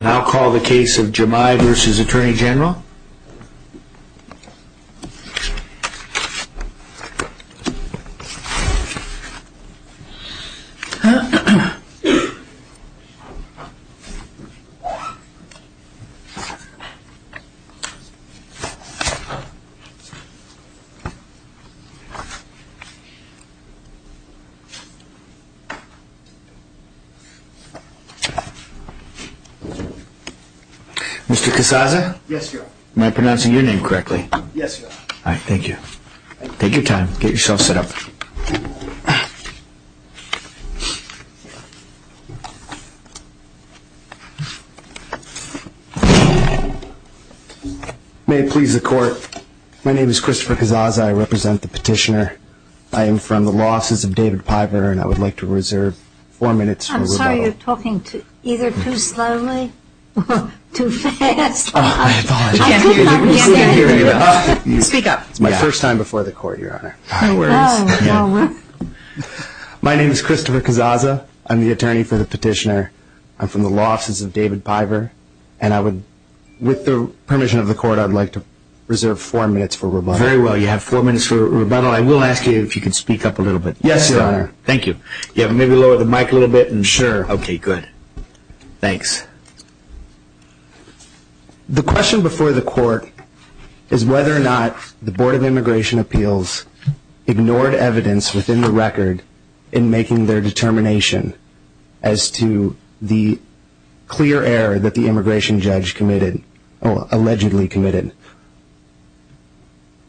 Now call the case of Jemai v. Attorney General. Mr. Casazza? Yes, Your Honor. Am I pronouncing your name correctly? Yes, Your Honor. All right. Thank you. Thank you. Take your time. Get yourself set up. May it please the Court, my name is Christopher Casazza. I represent the petitioner. I am from the losses of David Piper and I would like to reserve four minutes for rebuttal. You're talking either too slowly or too fast. I apologize. Speak up. It's my first time before the Court, Your Honor. My name is Christopher Casazza. I'm the attorney for the petitioner. I'm from the losses of David Piper and I would, with the permission of the Court, I'd like to reserve four minutes for rebuttal. Very well. You have four minutes for rebuttal. I will ask you if you can speak up a little bit. Yes, Your Honor. Thank you. You have to maybe lower the mic a little bit. Sure. Okay, good. Thanks. The question before the Court is whether or not the Board of Immigration Appeals ignored evidence within the record in making their determination as to the clear error that the immigration judge allegedly committed.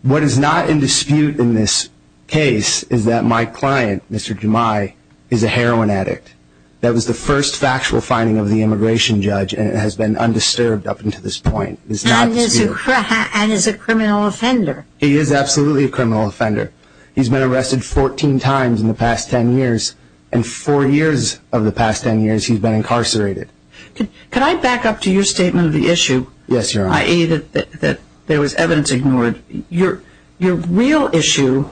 What is not in dispute in this case is that my client, Mr. Jumai, is a heroin addict. That was the first factual finding of the immigration judge and it has been undisturbed up until this point. And is a criminal offender. He is absolutely a criminal offender. He's been arrested 14 times in the past 10 years and four years of the past 10 years he's been incarcerated. Yes, Your Honor. I.e. that there was evidence ignored. Your real issue,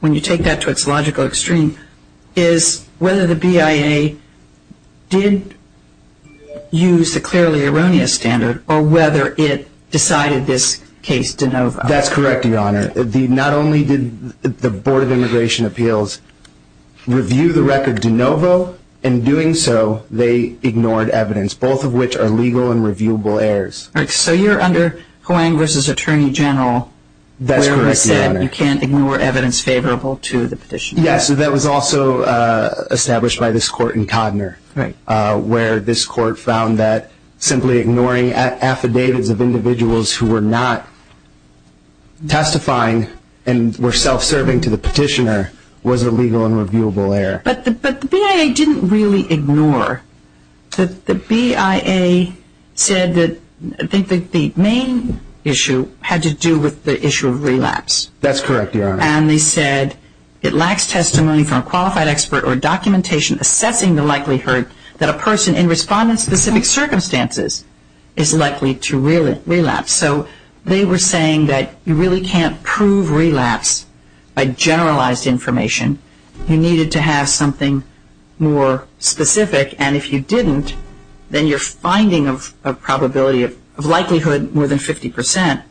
when you take that to its logical extreme, is whether the BIA did use the clearly erroneous standard or whether it decided this case de novo. That's correct, Your Honor. Not only did the Board of Immigration Appeals review the record de novo, in doing so they ignored evidence, both of which are legal and reviewable errors. So you're under Hoang v. Attorney General. That's correct, Your Honor. Where it said you can't ignore evidence favorable to the petitioner. Yes, that was also established by this court in Codner, where this court found that simply ignoring affidavits of individuals who were not testifying and were self-serving to the petitioner was a legal and reviewable error. But the BIA didn't really ignore. The BIA said that I think the main issue had to do with the issue of relapse. That's correct, Your Honor. And they said it lacks testimony from a qualified expert or documentation assessing the likelihood that a person in respondent-specific circumstances is likely to relapse. So they were saying that you really can't prove relapse by generalized information. You needed to have something more specific, and if you didn't, then your finding of a probability of likelihood more than 50 percent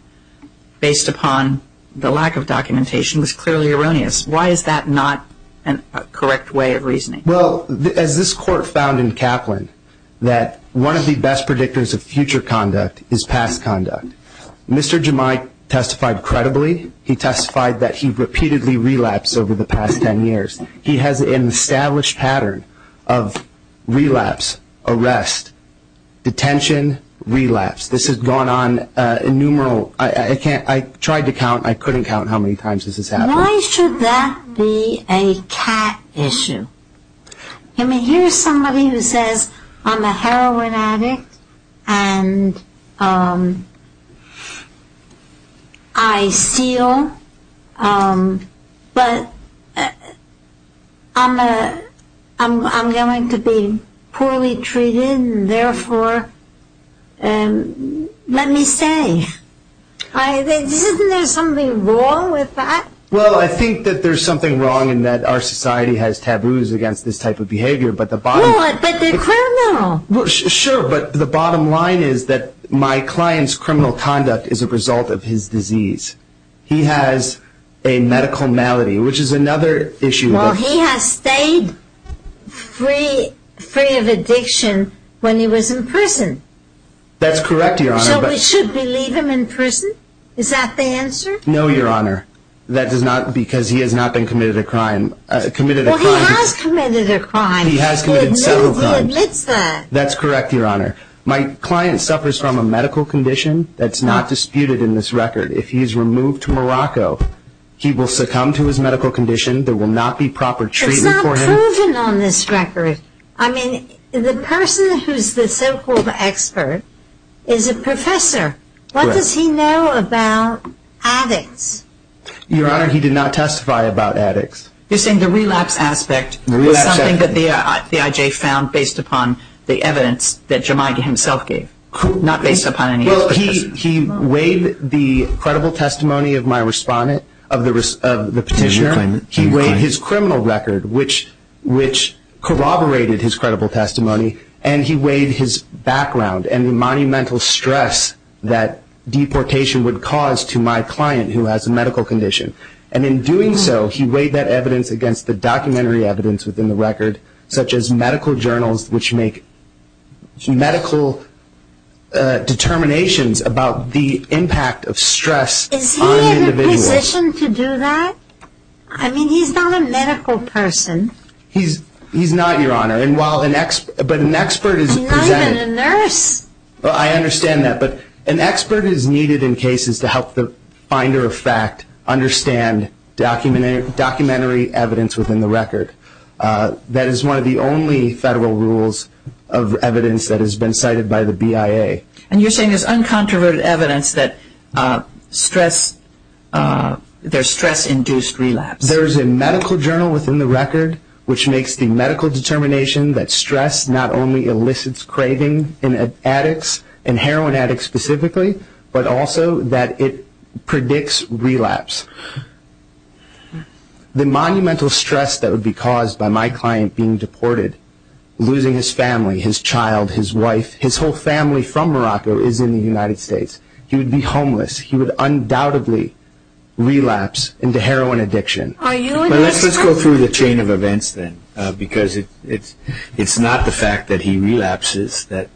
based upon the lack of documentation was clearly erroneous. Why is that not a correct way of reasoning? Well, as this court found in Kaplan, that one of the best predictors of future conduct is past conduct. Mr. Jemai testified credibly. He testified that he repeatedly relapsed over the past 10 years. He has an established pattern of relapse, arrest, detention, relapse. This has gone on innumerable – I tried to count. I couldn't count how many times this has happened. Why should that be a cat issue? I mean, here's somebody who says, I'm a heroin addict, and I seal, but I'm going to be poorly treated, and therefore, let me stay. Isn't there something wrong with that? Well, I think that there's something wrong in that our society has taboos against this type of behavior, but the bottom – No, but they're criminal. Sure, but the bottom line is that my client's criminal conduct is a result of his disease. He has a medical malady, which is another issue. Well, he has stayed free of addiction when he was in prison. That's correct, Your Honor, but – So we should believe him in prison? Is that the answer? No, Your Honor. That does not – because he has not been committed a crime. Well, he has committed a crime. He has committed several crimes. He admits that. That's correct, Your Honor. My client suffers from a medical condition that's not disputed in this record. If he is removed to Morocco, he will succumb to his medical condition. There will not be proper treatment for him. It's not proven on this record. I mean, the person who's the so-called expert is a professor. What does he know about addicts? Your Honor, he did not testify about addicts. You're saying the relapse aspect was something that the IJ found based upon the evidence that Jumaidi himself gave, not based upon any of his testimonies? Well, he weighed the credible testimony of my respondent, of the petitioner. He weighed his criminal record, which corroborated his credible testimony, and he weighed his background and the monumental stress that deportation would cause to my client, who has a medical condition. And in doing so, he weighed that evidence against the documentary evidence within the record, such as medical journals which make medical determinations about the impact of stress on individuals. Is he in a position to do that? I mean, he's not a medical person. He's not, Your Honor. But an expert is presented. He's not even a nurse. Well, I understand that. But an expert is needed in cases to help the finder of fact understand documentary evidence within the record. That is one of the only federal rules of evidence that has been cited by the BIA. And you're saying there's uncontroverted evidence that there's stress-induced relapse? There's a medical journal within the record, which makes the medical determination that stress not only elicits craving in addicts, in heroin addicts specifically, but also that it predicts relapse. The monumental stress that would be caused by my client being deported, losing his family, his child, his wife, his whole family from Morocco is in the United States. He would be homeless. He would undoubtedly relapse into heroin addiction. Let's go through the chain of events then, because it's not the fact that he relapses that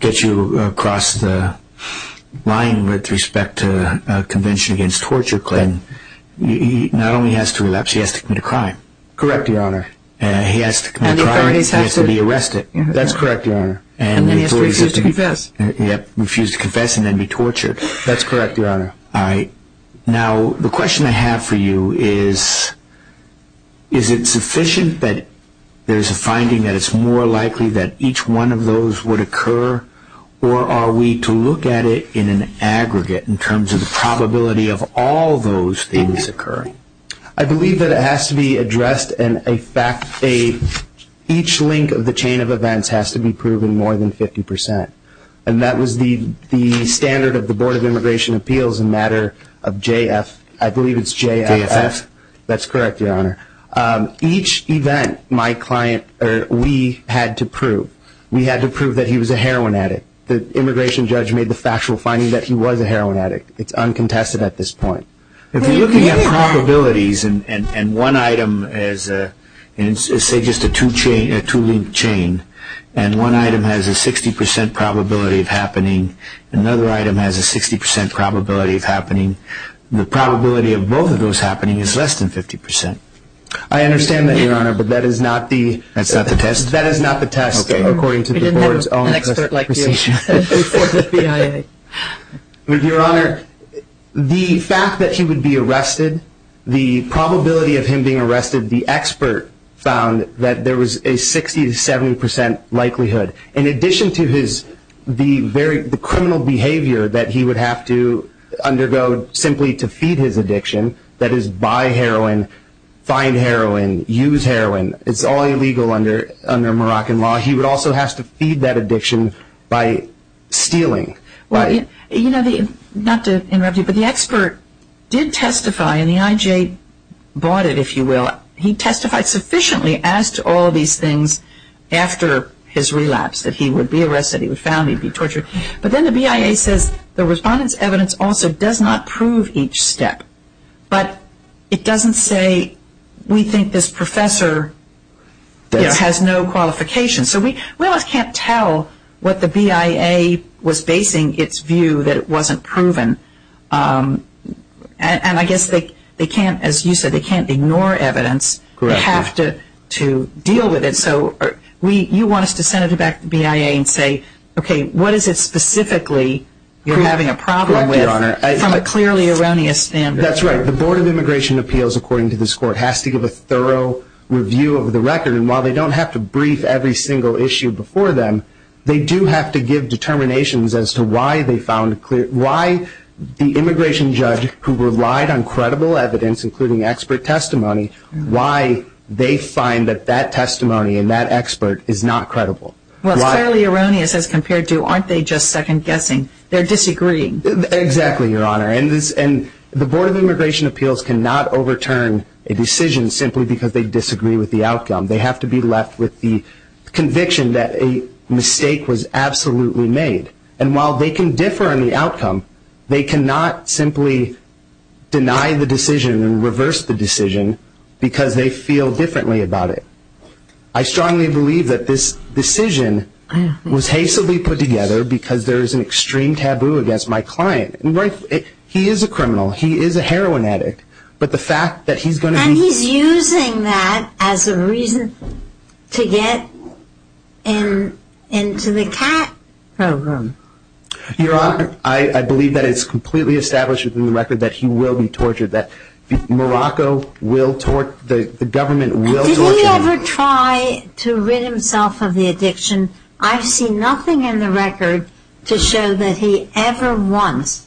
gets you across the line with respect to a convention against torture claim. He not only has to relapse, he has to commit a crime. Correct, Your Honor. He has to commit a crime and he has to be arrested. That's correct, Your Honor. And then he has to refuse to confess. That's correct, Your Honor. All right. Now, the question I have for you is, is it sufficient that there's a finding that it's more likely that each one of those would occur, or are we to look at it in an aggregate in terms of the probability of all those things occurring? I believe that it has to be addressed and each link of the chain of events has to be proven more than 50 percent. And that was the standard of the Board of Immigration Appeals in matter of JF. I believe it's JFF. JFF. That's correct, Your Honor. Each event my client or we had to prove. We had to prove that he was a heroin addict. The immigration judge made the factual finding that he was a heroin addict. It's uncontested at this point. If you're looking at probabilities and one item is, say, just a two-link chain, and one item has a 60 percent probability of happening, another item has a 60 percent probability of happening, the probability of both of those happening is less than 50 percent. I understand that, Your Honor, but that is not the test. That is not the test. According to the Board's own test of precision. We didn't have an expert like you. Report to BIA. Your Honor, the fact that he would be arrested, the probability of him being arrested, the expert found that there was a 60 to 70 percent likelihood. In addition to the criminal behavior that he would have to undergo simply to feed his addiction, that is buy heroin, find heroin, use heroin, it's all illegal under Moroccan law, he would also have to feed that addiction by stealing. You know, not to interrupt you, but the expert did testify, and the IJ bought it, if you will. He testified sufficiently as to all these things after his relapse, that he would be arrested, he would be found, he would be tortured. But then the BIA says the respondent's evidence also does not prove each step. But it doesn't say we think this professor has no qualifications. So we almost can't tell what the BIA was basing its view that it wasn't proven. And I guess they can't, as you said, they can't ignore evidence. Correct. They have to deal with it. So you want us to send it back to BIA and say, okay, what is it specifically you're having a problem with from a clearly erroneous standard? That's right. The Board of Immigration Appeals, according to this court, has to give a thorough review of the record. And while they don't have to brief every single issue before them, they do have to give determinations as to why the immigration judge who relied on credible evidence, including expert testimony, why they find that that testimony and that expert is not credible. Well, it's clearly erroneous as compared to, aren't they just second-guessing? They're disagreeing. Exactly, Your Honor. And the Board of Immigration Appeals cannot overturn a decision simply because they disagree with the outcome. They have to be left with the conviction that a mistake was absolutely made. And while they can differ on the outcome, they cannot simply deny the decision and reverse the decision because they feel differently about it. I strongly believe that this decision was hastily put together because there is an extreme taboo against my client. He is a criminal. He is a heroin addict. But the fact that he's going to be- And he's using that as a reason to get into the cat room. Your Honor, I believe that it's completely established within the record that he will be tortured, that the government will torture him. Did he ever try to rid himself of the addiction? I've seen nothing in the record to show that he ever once,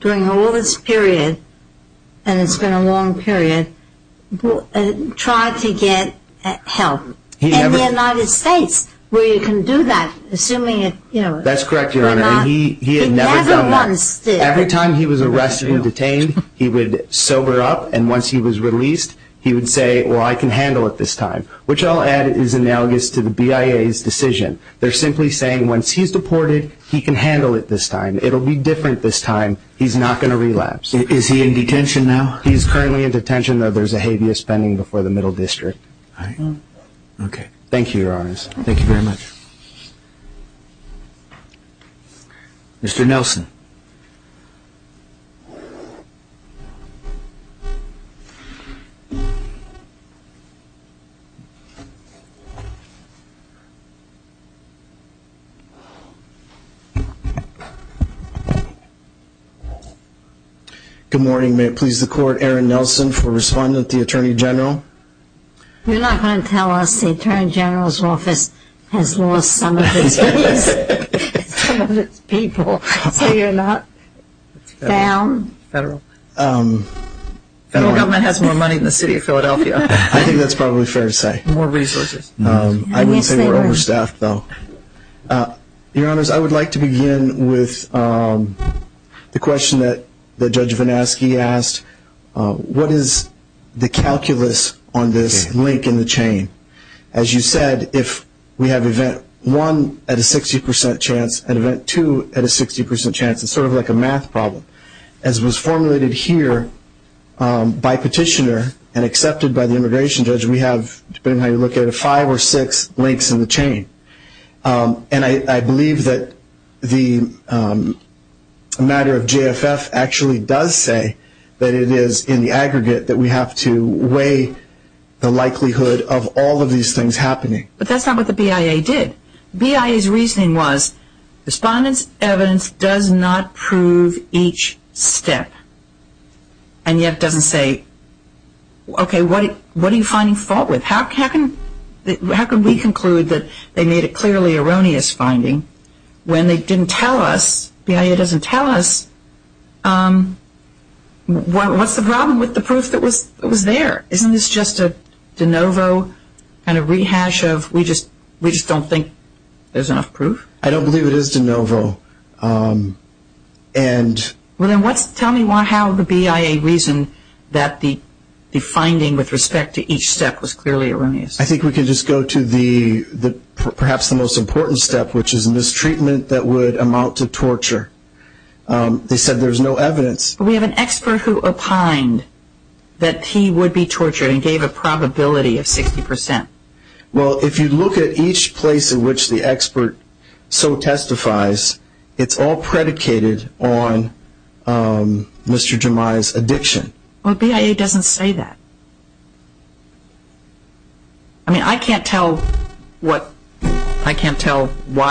during all this period, and it's been a long period, tried to get help in the United States, where you can do that, assuming it- That's correct, Your Honor. He never once did. Every time he was arrested and detained, he would sober up. And once he was released, he would say, well, I can handle it this time, which I'll add is analogous to the BIA's decision. They're simply saying once he's deported, he can handle it this time. It'll be different this time. He's not going to relapse. Is he in detention now? He's currently in detention, though there's a habeas pending before the Middle District. All right. Okay. Thank you, Your Honors. Thank you very much. Mr. Nelson. Good morning. May it please the Court, Aaron Nelson for responding to the Attorney General. You're not going to tell us the Attorney General's office has lost some of its people, so you're not down? Federal. Federal government has more money than the City of Philadelphia. I think that's probably fair to say. More resources. I will say we're overstaffed, though. Your Honors, I would like to begin with the question that Judge Vanaski asked. What is the calculus on this link in the chain? As you said, if we have event one at a 60% chance and event two at a 60% chance, it's sort of like a math problem. As was formulated here by petitioner and accepted by the immigration judge, we have, depending on how you look at it, five or six links in the chain. And I believe that the matter of JFF actually does say that it is in the aggregate that we have to weigh the likelihood of all of these things happening. But that's not what the BIA did. BIA's reasoning was respondent's evidence does not prove each step and yet doesn't say, okay, what are you finding fault with? How can we conclude that they made a clearly erroneous finding when they didn't tell us, BIA doesn't tell us, what's the problem with the proof that was there? Isn't this just a de novo kind of rehash of we just don't think there's enough proof? I don't believe it is de novo. Well, then tell me how the BIA reasoned that the finding with respect to each step was clearly erroneous. I think we could just go to perhaps the most important step, which is a mistreatment that would amount to torture. They said there's no evidence. But we have an expert who opined that he would be tortured and gave a probability of 60%. Well, if you look at each place in which the expert so testifies, it's all predicated on Mr. Jemai's addiction. Well, BIA doesn't say that. I mean, I can't tell why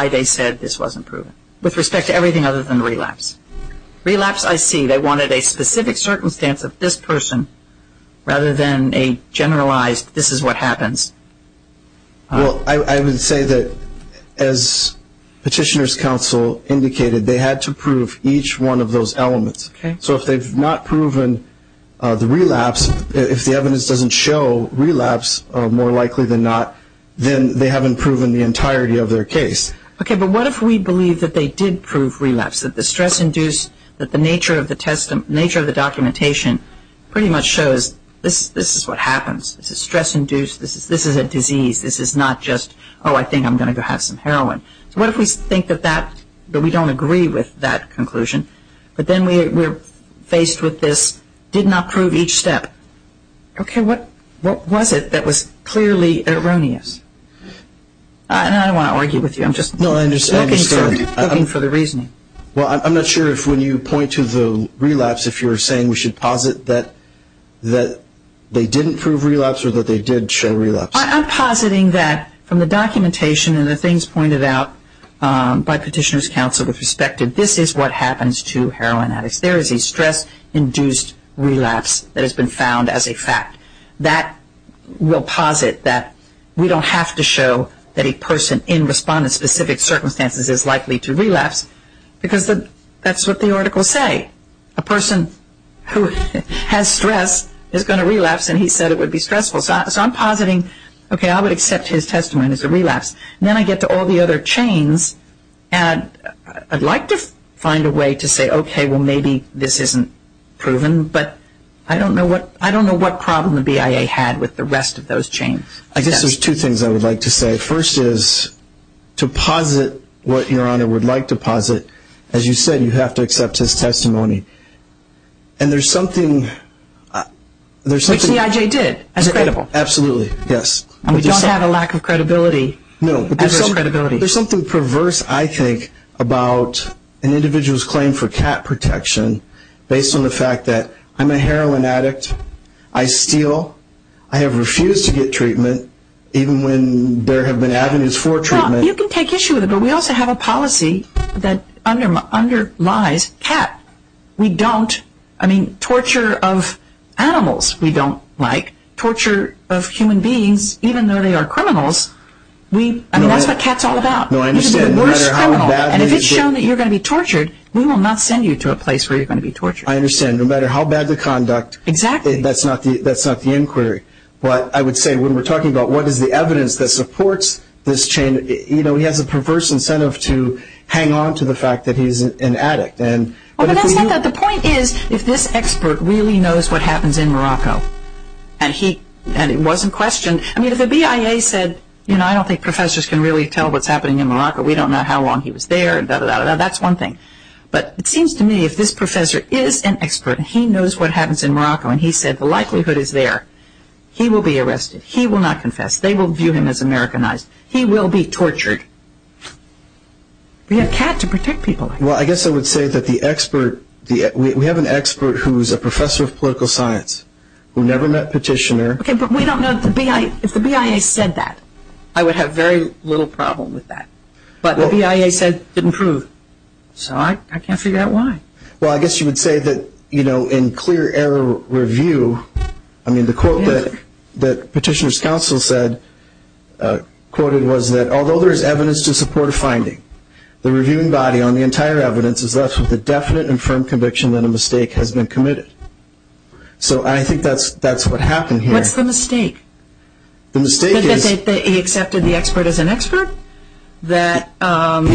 they said this wasn't proven with respect to everything other than relapse. Relapse, I see. They wanted a specific circumstance of this person rather than a generalized this is what happens. Well, I would say that as Petitioner's Counsel indicated, they had to prove each one of those elements. Okay. So if they've not proven the relapse, if the evidence doesn't show relapse more likely than not, then they haven't proven the entirety of their case. Okay, but what if we believe that they did prove relapse, that the stress-induced, that the nature of the documentation pretty much shows this is what happens. This is stress-induced. This is a disease. This is not just, oh, I think I'm going to go have some heroin. So what if we think that that, but we don't agree with that conclusion, but then we're faced with this did not prove each step. Okay, what was it that was clearly erroneous? I don't want to argue with you. I'm just looking for the reasoning. Well, I'm not sure if when you point to the relapse, if you're saying we should posit that they didn't prove relapse or that they did show relapse. I'm positing that from the documentation and the things pointed out by Petitioner's Counsel, the perspective this is what happens to heroin addicts. There is a stress-induced relapse that has been found as a fact. That will posit that we don't have to show that a person in response to specific circumstances is likely to relapse because that's what the articles say. A person who has stress is going to relapse, and he said it would be stressful. So I'm positing, okay, I would accept his testimony as a relapse. Then I get to all the other chains, and I'd like to find a way to say, okay, well, maybe this isn't proven, but I don't know what problem the BIA had with the rest of those chains. I guess there's two things I would like to say. First is to posit what Your Honor would like to posit, as you said, you have to accept his testimony. And there's something... Which the IJ did, as credible. Absolutely, yes. And we don't have a lack of credibility. No, but there's something perverse, I think, about an individual's claim for cat protection based on the fact that I'm a heroin addict, I steal, I have refused to get treatment, even when there have been avenues for treatment. You can take issue with it, but we also have a policy that underlies cat. We don't, I mean, torture of animals, we don't like. Torture of human beings, even though they are criminals, I mean, that's what cat's all about. And if it's shown that you're going to be tortured, we will not send you to a place where you're going to be tortured. I understand, no matter how bad the conduct, that's not the inquiry. But I would say when we're talking about what is the evidence that supports this chain, you know, he has a perverse incentive to hang on to the fact that he's an addict. The point is, if this expert really knows what happens in Morocco, and it wasn't questioned, I mean, if the BIA said, you know, I don't think professors can really tell what's happening in Morocco, we don't know how long he was there, that's one thing. But it seems to me if this professor is an expert, he knows what happens in Morocco, and he said the likelihood is there, he will be arrested. He will not confess. They will view him as Americanized. He will be tortured. We have cat to protect people. Well, I guess I would say that the expert, we have an expert who's a professor of political science, who never met Petitioner. Okay, but we don't know if the BIA said that. I would have very little problem with that. But the BIA said it didn't prove. So I can't figure out why. Well, I guess you would say that, you know, in clear error review, I mean, the quote that Petitioner's counsel said, quoted, was that although there is evidence to support a finding, the reviewing body on the entire evidence is left with a definite and firm conviction that a mistake has been committed. So I think that's what happened here. What's the mistake? The mistake is that he accepted the expert as an expert? He's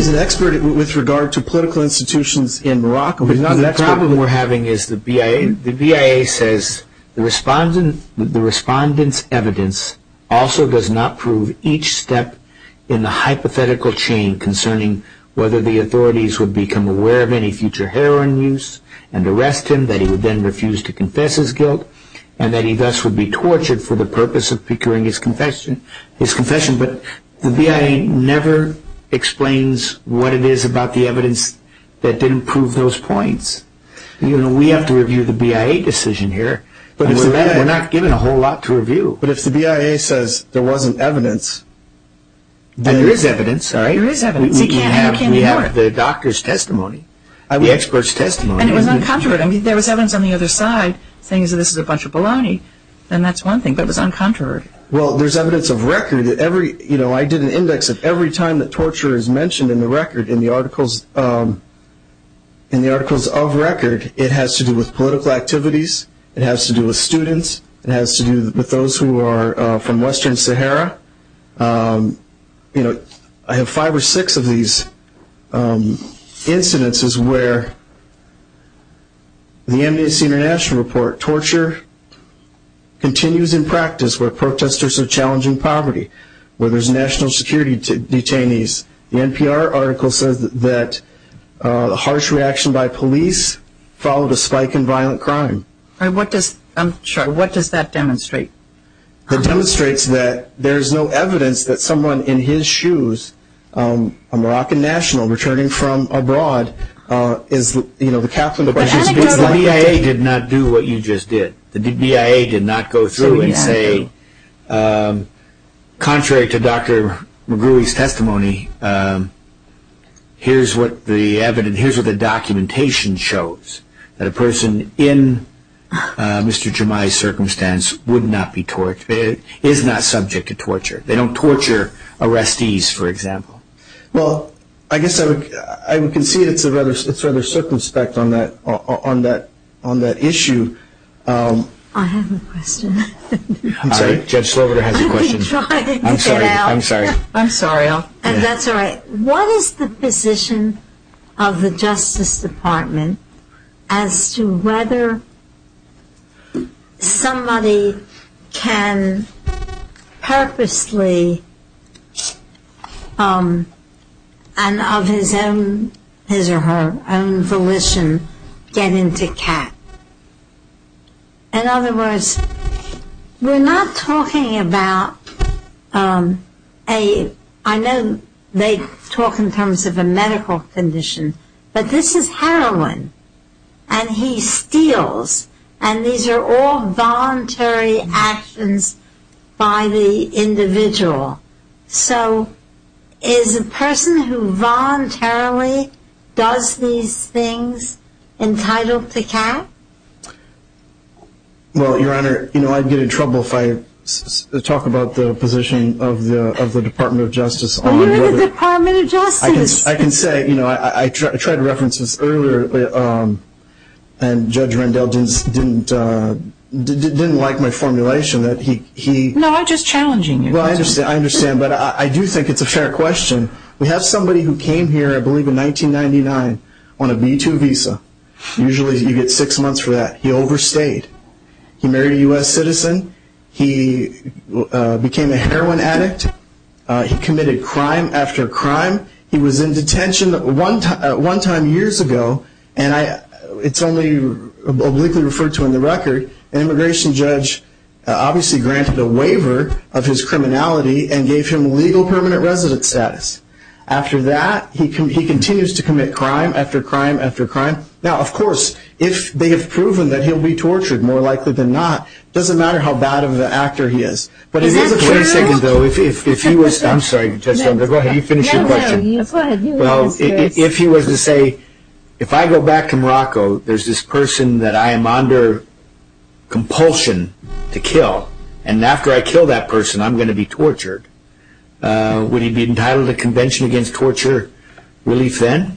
an expert with regard to political institutions in Morocco. The problem we're having is the BIA says the respondent's evidence also does not prove each step in the hypothetical chain concerning whether the authorities would become aware of any future heroin use and arrest him, that he would then refuse to confess his guilt, and that he thus would be tortured for the purpose of procuring his confession. But the BIA never explains what it is about the evidence that didn't prove those points. You know, we have to review the BIA decision here. We're not given a whole lot to review. But if the BIA says there wasn't evidence, then... And there is evidence, all right? There is evidence. He can't indicate anymore. We have the doctor's testimony. The expert's testimony. And it was uncontroverted. I mean, there was evidence on the other side saying this is a bunch of baloney, and that's one thing, but it was uncontroverted. Well, there's evidence of record. You know, I did an index of every time that torture is mentioned in the record in the articles of record. It has to do with political activities. It has to do with students. It has to do with those who are from Western Sahara. You know, I have five or six of these incidences where the Amnesty International report, torture continues in practice where protesters are challenging poverty, where there's national security detainees. The NPR article says that the harsh reaction by police followed a spike in violent crime. What does that demonstrate? It demonstrates that there's no evidence that someone in his shoes, a Moroccan national returning from abroad, is, you know, the captain of a ship. The BIA did not do what you just did. The BIA did not go through and say, contrary to Dr. McGruey's testimony, here's what the evidence, here's what the documentation shows, that a person in Mr. Jemai's circumstance would not be tortured, is not subject to torture. They don't torture arrestees, for example. Well, I guess I would concede it's rather circumspect on that issue. I have a question. I'm sorry? Judge Slover has a question. I'm sorry. I'm sorry. That's all right. What is the position of the Justice Department as to whether somebody can purposely, and of his or her own volition, get into CAT? In other words, we're not talking about a, I know they talk in terms of a medical condition, but this is heroin, and he steals, and these are all voluntary actions by the individual. So is a person who voluntarily does these things entitled to CAT? Well, Your Honor, I'd get in trouble if I talk about the position of the Department of Justice. You're in the Department of Justice. I can say, I tried to reference this earlier, and Judge Rendell didn't like my formulation. No, I'm just challenging you. Well, I understand, but I do think it's a fair question. We have somebody who came here, I believe, in 1999 on a B-2 visa. Usually you get six months for that. He overstayed. He married a U.S. citizen. He became a heroin addict. He committed crime after crime. He was in detention one time years ago, and it's only obliquely referred to in the record. An immigration judge obviously granted a waiver of his criminality and gave him legal permanent resident status. After that, he continues to commit crime after crime after crime. Now, of course, if they have proven that he'll be tortured, more likely than not, it doesn't matter how bad of an actor he is. But if he was to say, if I go back to Morocco, there's this person that I am under compulsion to kill, and after I kill that person I'm going to be tortured, would he be entitled to Convention Against Torture relief then?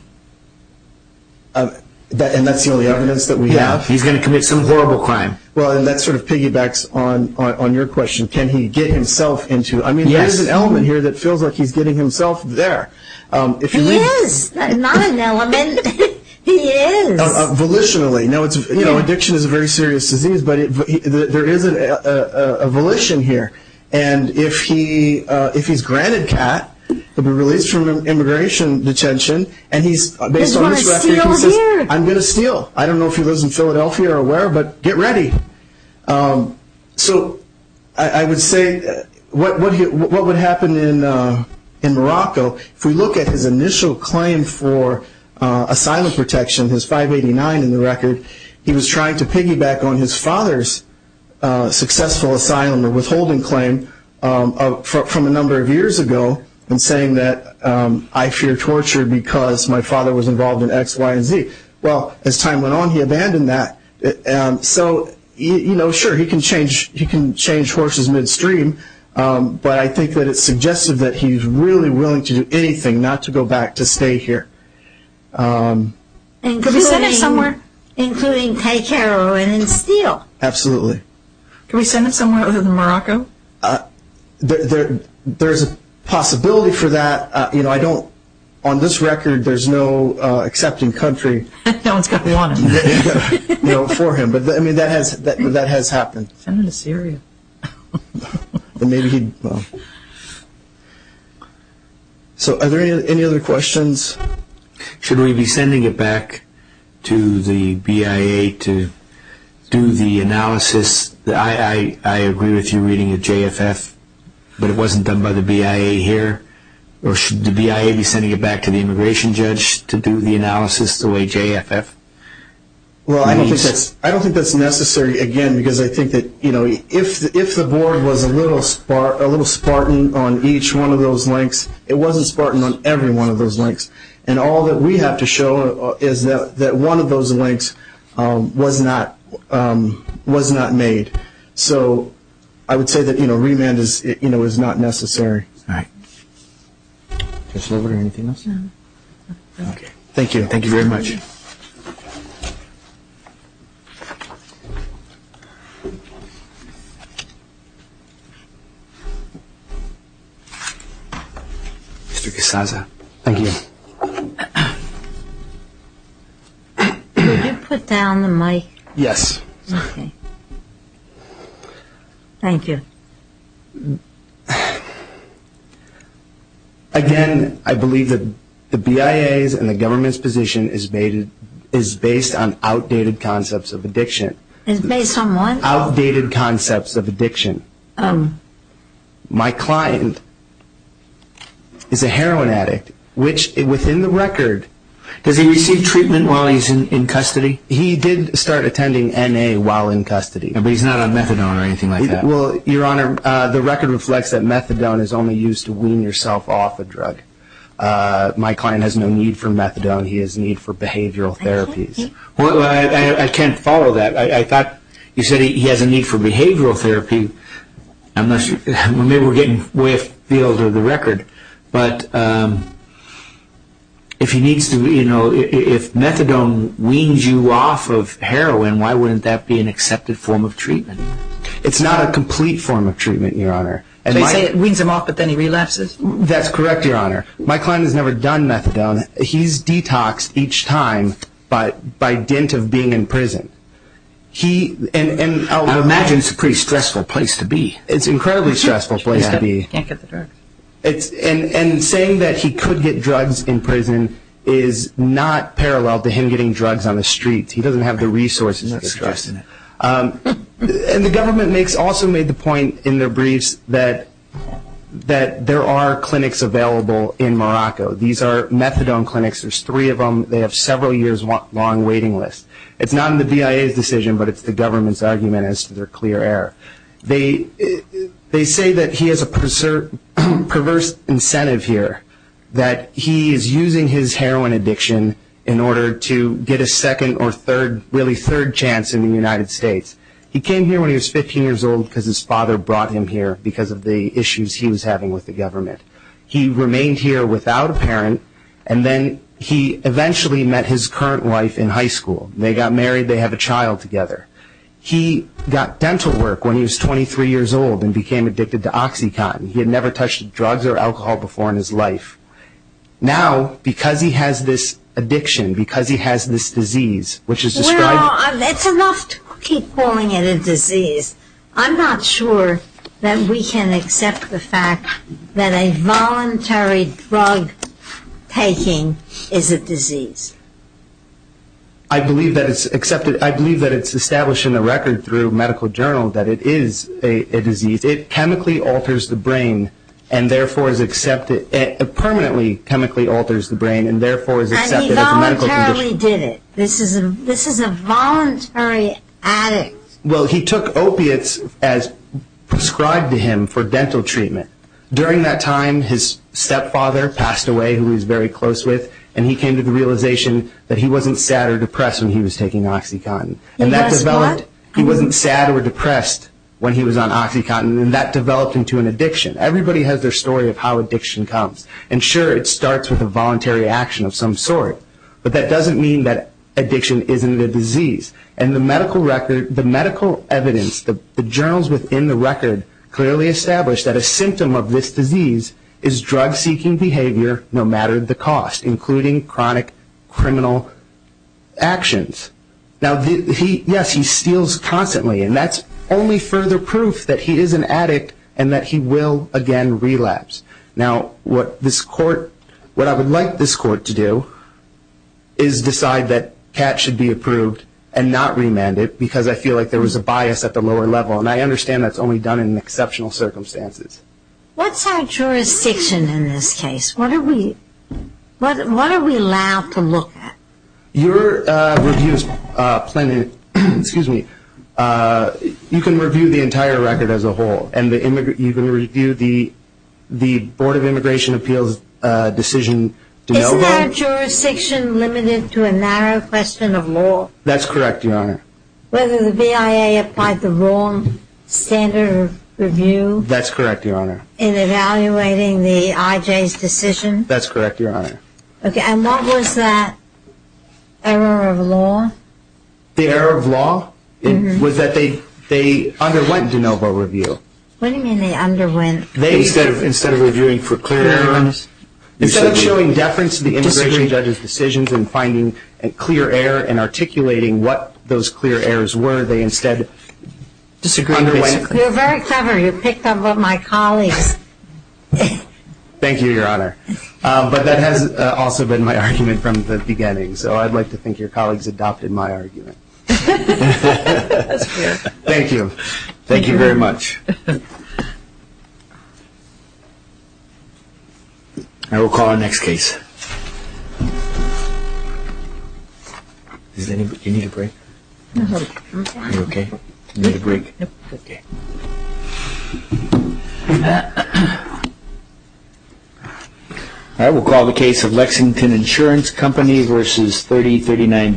And that's the only evidence that we have. He's going to commit some horrible crime. Well, that sort of piggybacks on your question, can he get himself into it. I mean, there's an element here that feels like he's getting himself there. He is not an element. He is. Volitionally. Now, addiction is a very serious disease, but there is a volition here. And if he's granted CAT, he'll be released from immigration detention, and he's based on his record, he says, I'm going to steal. I don't know if he lives in Philadelphia or where, but get ready. So I would say what would happen in Morocco, so if we look at his initial claim for asylum protection, his 589 in the record, he was trying to piggyback on his father's successful asylum or withholding claim from a number of years ago in saying that I fear torture because my father was involved in X, Y, and Z. Well, as time went on he abandoned that. So, you know, sure, he can change horses midstream, but I think that it's suggestive that he's really willing to do anything not to go back to stay here. Could we send him somewhere? Including take heroin and steal. Absolutely. Could we send him somewhere other than Morocco? There's a possibility for that. You know, I don't, on this record, there's no accepting country. No one's going to want him. No, for him. But, I mean, that has happened. Send him to Syria. So are there any other questions? Should we be sending it back to the BIA to do the analysis? I agree with you reading the JFF, but it wasn't done by the BIA here. Or should the BIA be sending it back to the immigration judge to do the analysis the way JFF? Well, I don't think that's necessary, again, because I think that, you know, if the board was a little spartan on each one of those links, it wasn't spartan on every one of those links. And all that we have to show is that one of those links was not made. So I would say that, you know, remand is not necessary. All right. Commissioner, anything else? No. Okay. Thank you. Thank you very much. Mr. Kassaza. Thank you. Could you put down the mic? Yes. Okay. Thank you. Again, I believe that the BIA's and the government's position is based on outdated concepts of addiction. It's based on what? Outdated concepts of addiction. My client is a heroin addict, which within the record... Does he receive treatment while he's in custody? He did start attending NA while in custody. But he's not on methadone or anything like that? Well, Your Honor, the record reflects that methadone is only used to wean yourself off a drug. My client has no need for methadone. He has a need for behavioral therapies. Well, I can't follow that. I thought you said he has a need for behavioral therapy. Maybe we're getting way afield of the record. But if methadone weans you off of heroin, why wouldn't that be an accepted form of treatment? It's not a complete form of treatment, Your Honor. You're saying it weans him off, but then he relapses? That's correct, Your Honor. My client has never done methadone. He's detoxed each time by dint of being in prison. And I would imagine it's a pretty stressful place to be. It's an incredibly stressful place to be. He can't get the drugs. And saying that he could get drugs in prison is not parallel to him getting drugs on the street. He doesn't have the resources to get drugs. And the government also made the point in their briefs that there are clinics available in Morocco. These are methadone clinics. There's three of them. They have several years' long waiting lists. It's not in the BIA's decision, but it's the government's argument as to their clear error. They say that he has a perverse incentive here, that he is using his heroin addiction in order to get a second or third, really third chance in the United States. He came here when he was 15 years old because his father brought him here because of the issues he was having with the government. He remained here without a parent, and then he eventually met his current wife in high school. They got married. They have a child together. He got dental work when he was 23 years old and became addicted to OxyContin. He had never touched drugs or alcohol before in his life. Now, because he has this addiction, because he has this disease, which is described... Well, it's enough to keep calling it a disease. I'm not sure that we can accept the fact that a voluntary drug taking is a disease. I believe that it's established in the record through medical journals that it is a disease. It chemically alters the brain and, therefore, is accepted... It permanently chemically alters the brain and, therefore, is accepted as a medical condition. And he voluntarily did it. This is a voluntary addict. Well, he took opiates as prescribed to him for dental treatment. During that time, his stepfather passed away, who he was very close with, and he came to the realization that he wasn't sad or depressed when he was taking OxyContin. He was what? He wasn't sad or depressed when he was on OxyContin, and that developed into an addiction. Everybody has their story of how addiction comes. And, sure, it starts with a voluntary action of some sort, but that doesn't mean that addiction isn't a disease. And the medical evidence, the journals within the record, clearly establish that a symptom of this disease is drug-seeking behavior no matter the cost, including chronic criminal actions. Now, yes, he steals constantly, and that's only further proof that he is an addict and that he will, again, relapse. Now, what I would like this court to do is decide that Kat should be approved and not remanded because I feel like there was a bias at the lower level, and I understand that's only done in exceptional circumstances. What's our jurisdiction in this case? What are we allowed to look at? Your review is plainly, excuse me, you can review the entire record as a whole, and you can review the Board of Immigration Appeals decision. Isn't our jurisdiction limited to a narrow question of law? That's correct, Your Honor. Whether the BIA applied the wrong standard of review? That's correct, Your Honor. In evaluating the IJ's decision? That's correct, Your Honor. Okay, and what was that error of law? The error of law was that they underwent de novo review. What do you mean they underwent? Instead of reviewing for clear errors. Instead of showing deference to the immigration judge's decisions and finding clear error and articulating what those clear errors were, they instead underwent. You're very clever. You picked up on my colleagues. Thank you, Your Honor. But that has also been my argument from the beginning, so I'd like to think your colleagues adopted my argument. That's fair. Thank you. Thank you very much. And we'll call our next case. You need a break? I'm okay. You're okay? You need a break? I'm okay. We'll call the case of Lexington Insurance Company v. 3039-B.